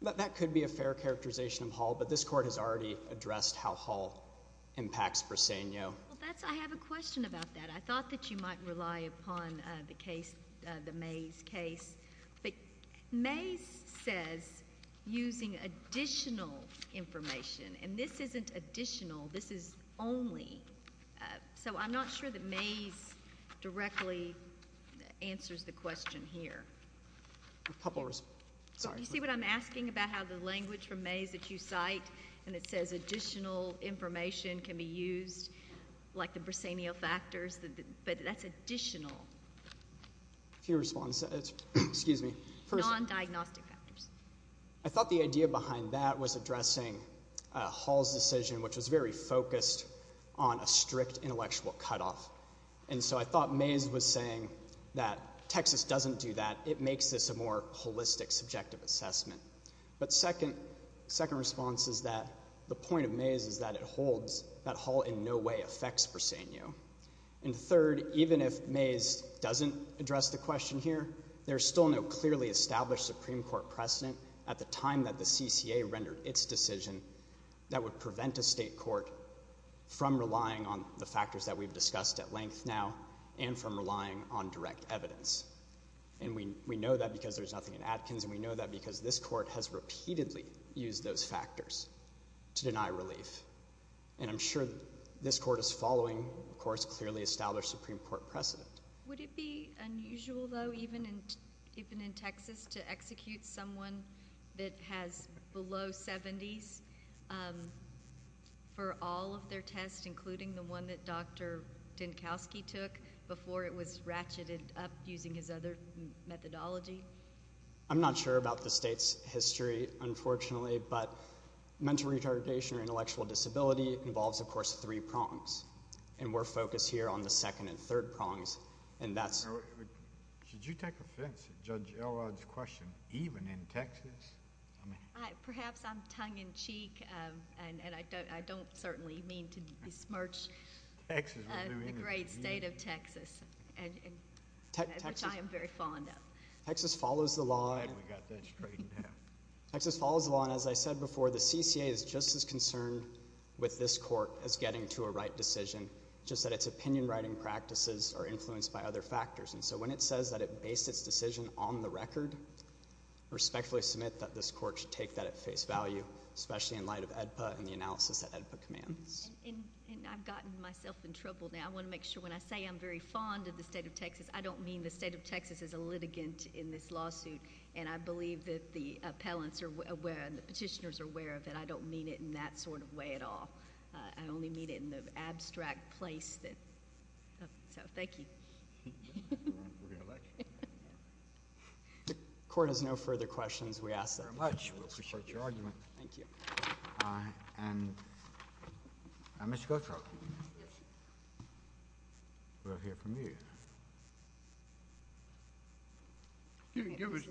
That could be a fair characterization of Hall, but this court has already addressed how Hall impacts Briseno. I have a question about that. I thought that you might rely upon the case, the Mays case. But Mays says, using additional information, and this isn't additional. This is only. So I'm not sure that Mays directly answers the question here. You see what I'm asking about how the language from Mays that you cite, and it says additional information can be used, like the Briseno factors, but that's additional non-diagnostic factors. I thought the idea behind that was addressing Hall's decision, which was very focused on a strict intellectual cutoff. And so I thought Mays was saying that Texas doesn't do that. It makes this a more holistic, subjective assessment. But second response is that the point of Mays is that it holds that Hall in no way affects Briseno. And third, even if Mays doesn't address the question here, there's still no clearly established Supreme Court precedent at the time that the CCA rendered its decision that would prevent a state court from relying on the factors that we've discussed at length now and from relying on direct evidence. And we know that because there's nothing in Atkins, and we know that because this court has repeatedly used those factors to deny relief. And I'm sure this court is following, of course, clearly established Supreme Court precedent. Would it be unusual, though, even in Texas, to execute someone that has below 70s for all of their tests, including the one that Dr. Dinkowski took before it was ratcheted up using his other methodology? I'm not sure about the state's history, unfortunately, but mental retardation or intellectual disability involves, of course, three prongs. And we're focused here on the second and third prongs, and that's... Should you take offense to Judge Elrod's question, even in Texas? Perhaps I'm tongue-in-cheek, and I don't certainly mean to besmirch the great state of Texas, which I am very fond of. Texas follows the law, and as I said before, the CCA is just as concerned with this court as getting to a right decision, just that its opinion-writing practices are influenced by other factors. And so when it says that it based its decision on the record, I respectfully submit that this court should take that at face value, especially in light of AEDPA and the analysis that AEDPA commands. And I've gotten myself in trouble now. I want to make sure when I say I'm very fond of the state of Texas, I don't mean the state of Texas as a litigant in this lawsuit, and I believe that the appellants are aware and the petitioners are aware of it. I don't mean it in that sort of way at all. I only mean it in the abstract place that... So, thank you. We're going to let you. The court has no further questions. We ask that you support your argument. Thank you. And Mr. Gautreaux. We'll hear from you.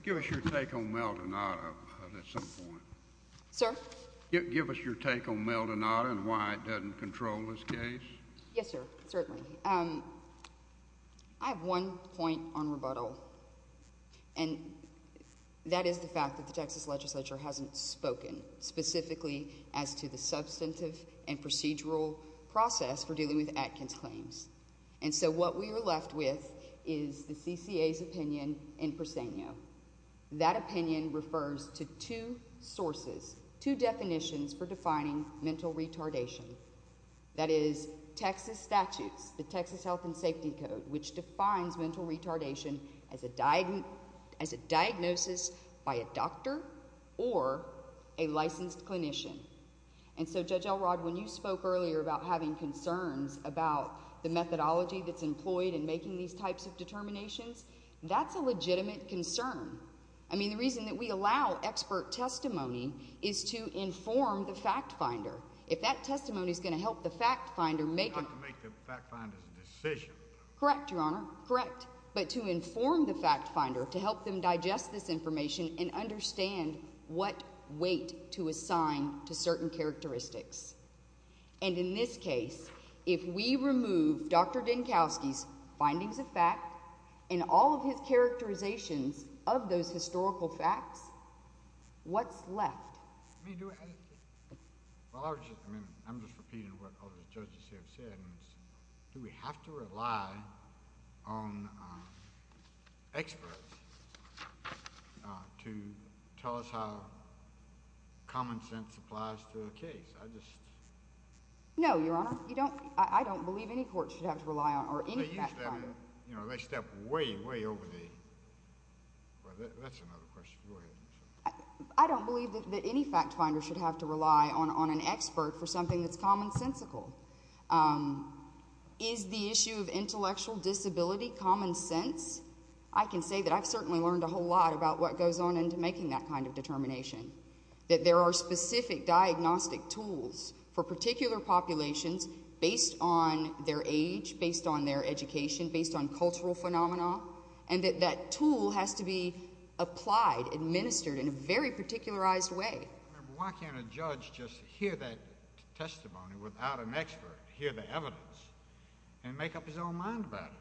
Give us your take on Mel Donato at some point. Sir? Give us your take on Mel Donato and why it doesn't control this case. Yes, sir, certainly. I have one point on rebuttal, and that is the fact that the Texas legislature hasn't spoken specifically as to the substantive and procedural process for dealing with Atkins claims. And so what we are left with is the CCA's opinion in Persenio. That opinion refers to two sources, two definitions for defining mental retardation. That is, Texas statutes, the Texas Health and Safety Code, which defines mental retardation as a diagnosis by a doctor or a licensed clinician. And so, Judge Elrod, when you spoke earlier about having concerns about the methodology that's employed in making these types of determinations, that's a legitimate concern. I mean, the reason that we allow expert testimony is to inform the fact finder. If that testimony is going to help the fact finder make... Not to make the fact finder's decision. Correct, Your Honor, correct. But to inform the fact finder, to help them digest this information and understand what weight to assign to certain characteristics. And in this case, if we remove Dr. Dinkowski's findings of fact and all of his characterizations of those historical facts, what's left? I mean, I'm just repeating what other judges here have said. Do we have to rely on experts to tell us how common sense applies to a case? I just... No, Your Honor, I don't believe any court should have to rely on or any fact finder. They step way, way over the... Well, that's another question. Go ahead. I don't believe that any fact finder should have to rely on an expert for something that's commonsensical. Is the issue of intellectual disability common sense? I can say that I've certainly learned a whole lot about what goes on into making that kind of determination, that there are specific diagnostic tools for particular populations based on their age, based on their education, based on cultural phenomena, and that that tool has to be applied, administered in a very particularized way. Why can't a judge just hear that testimony without an expert, hear the evidence, and make up his own mind about it?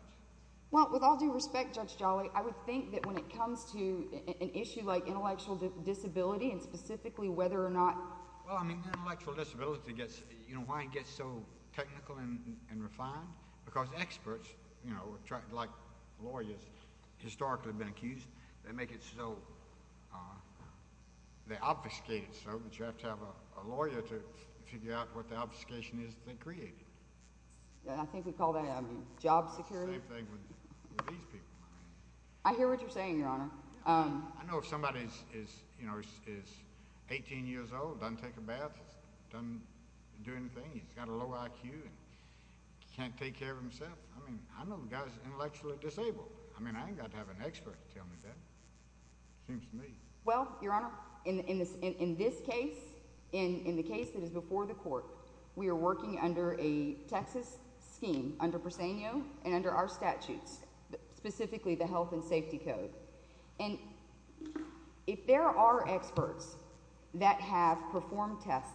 Well, with all due respect, Judge Jolly, I would think that when it comes to an issue like intellectual disability and specifically whether or not... Well, I mean, intellectual disability gets... You know, why it gets so technical and refined? Because experts, you know, like lawyers, historically have been accused, they make it so... They obfuscate it so that you have to have a lawyer to figure out what the obfuscation is that they created. Yeah, I think we call that job security. Same thing with these people. I hear what you're saying, Your Honor. I know if somebody is, you know, 18 years old, doesn't take a bath, doesn't do anything, he's got a low IQ and can't take care of himself, I mean, I know the guy's intellectually disabled. I mean, I ain't got to have an expert to tell me that. It seems to me. Well, Your Honor, in this case, in the case that is before the court, we are working under a Texas scheme, under Presenio and under our statutes, specifically the Health and Safety Code. And if there are experts that have performed tests,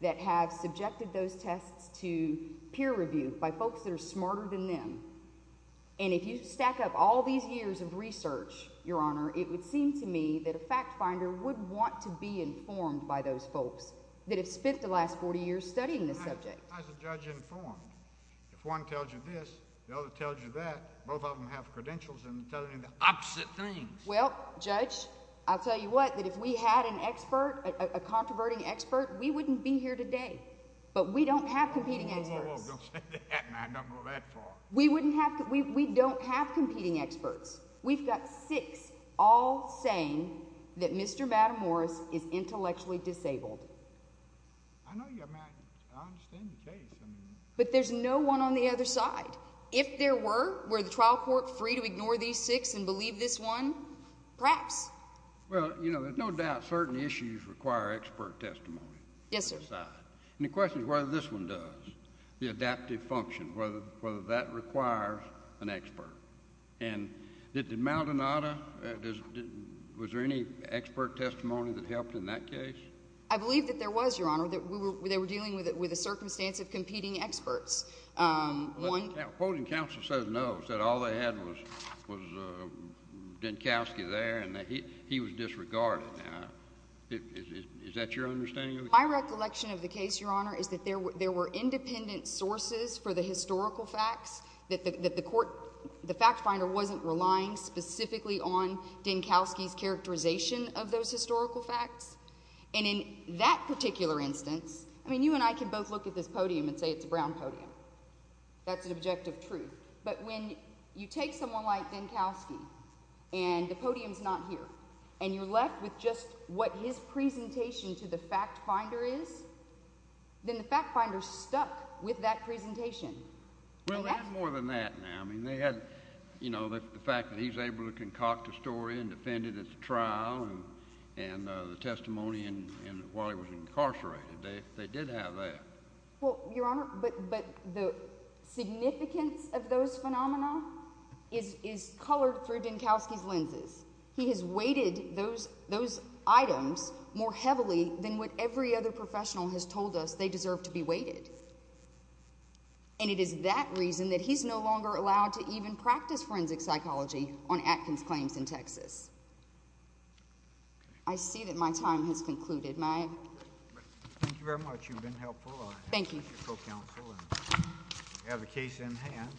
that have subjected those tests to peer review by folks that are smarter than them, and if you stack up all these years of research, Your Honor, it would seem to me that a fact finder would want to be informed by those folks that have spent the last 40 years studying this subject. How is a judge informed? If one tells you this, the other tells you that, both of them have credentials in telling you the opposite things. Well, Judge, I'll tell you what, that if we had an expert, a controverting expert, we wouldn't be here today. But we don't have competing experts. Whoa, whoa, whoa. Don't say that. I don't go that far. We don't have competing experts. We've got six all saying that Mr. Matamoros is intellectually disabled. I know you, I mean, I understand the case. But there's no one on the other side. If there were, were the trial court free to ignore these six and believe this one? Perhaps. Well, you know, there's no doubt certain issues require expert testimony. Yes, sir. On both sides. And the question is whether this one does, the adaptive function, whether that requires an expert. And did Maldonado, was there any expert testimony that helped in that case? I believe that there was, Your Honor, that they were dealing with a circumstance of competing experts. Well, the opposing counsel says no, said all they had was Dinkowski there, and he was disregarded. Is that your understanding of the case? My recollection of the case, Your Honor, is that there were independent sources for the historical facts, that the court, the fact finder wasn't relying specifically on Dinkowski's characterization of those historical facts. And in that particular instance, I mean, you and I can both look at this podium and say it's a brown podium. That's an objective truth. But when you take someone like Dinkowski, and the podium's not here, and you're left with just what his presentation to the fact finder is, then the fact finder's stuck with that presentation. Well, they had more than that now. I mean, they had, you know, the fact that he's able to concoct a story and defend it at the trial and the testimony while he was incarcerated. They did have that. Well, Your Honor, but the significance of those phenomena is colored through Dinkowski's lenses. He has weighted those items more heavily than what every other professional has told us they deserve to be weighted. And it is that reason that he's no longer allowed to even practice forensic psychology on Atkins claims in Texas. I see that my time has concluded. Thank you very much. You've been helpful. Thank you. I appreciate your co-counsel. We have the case in hand.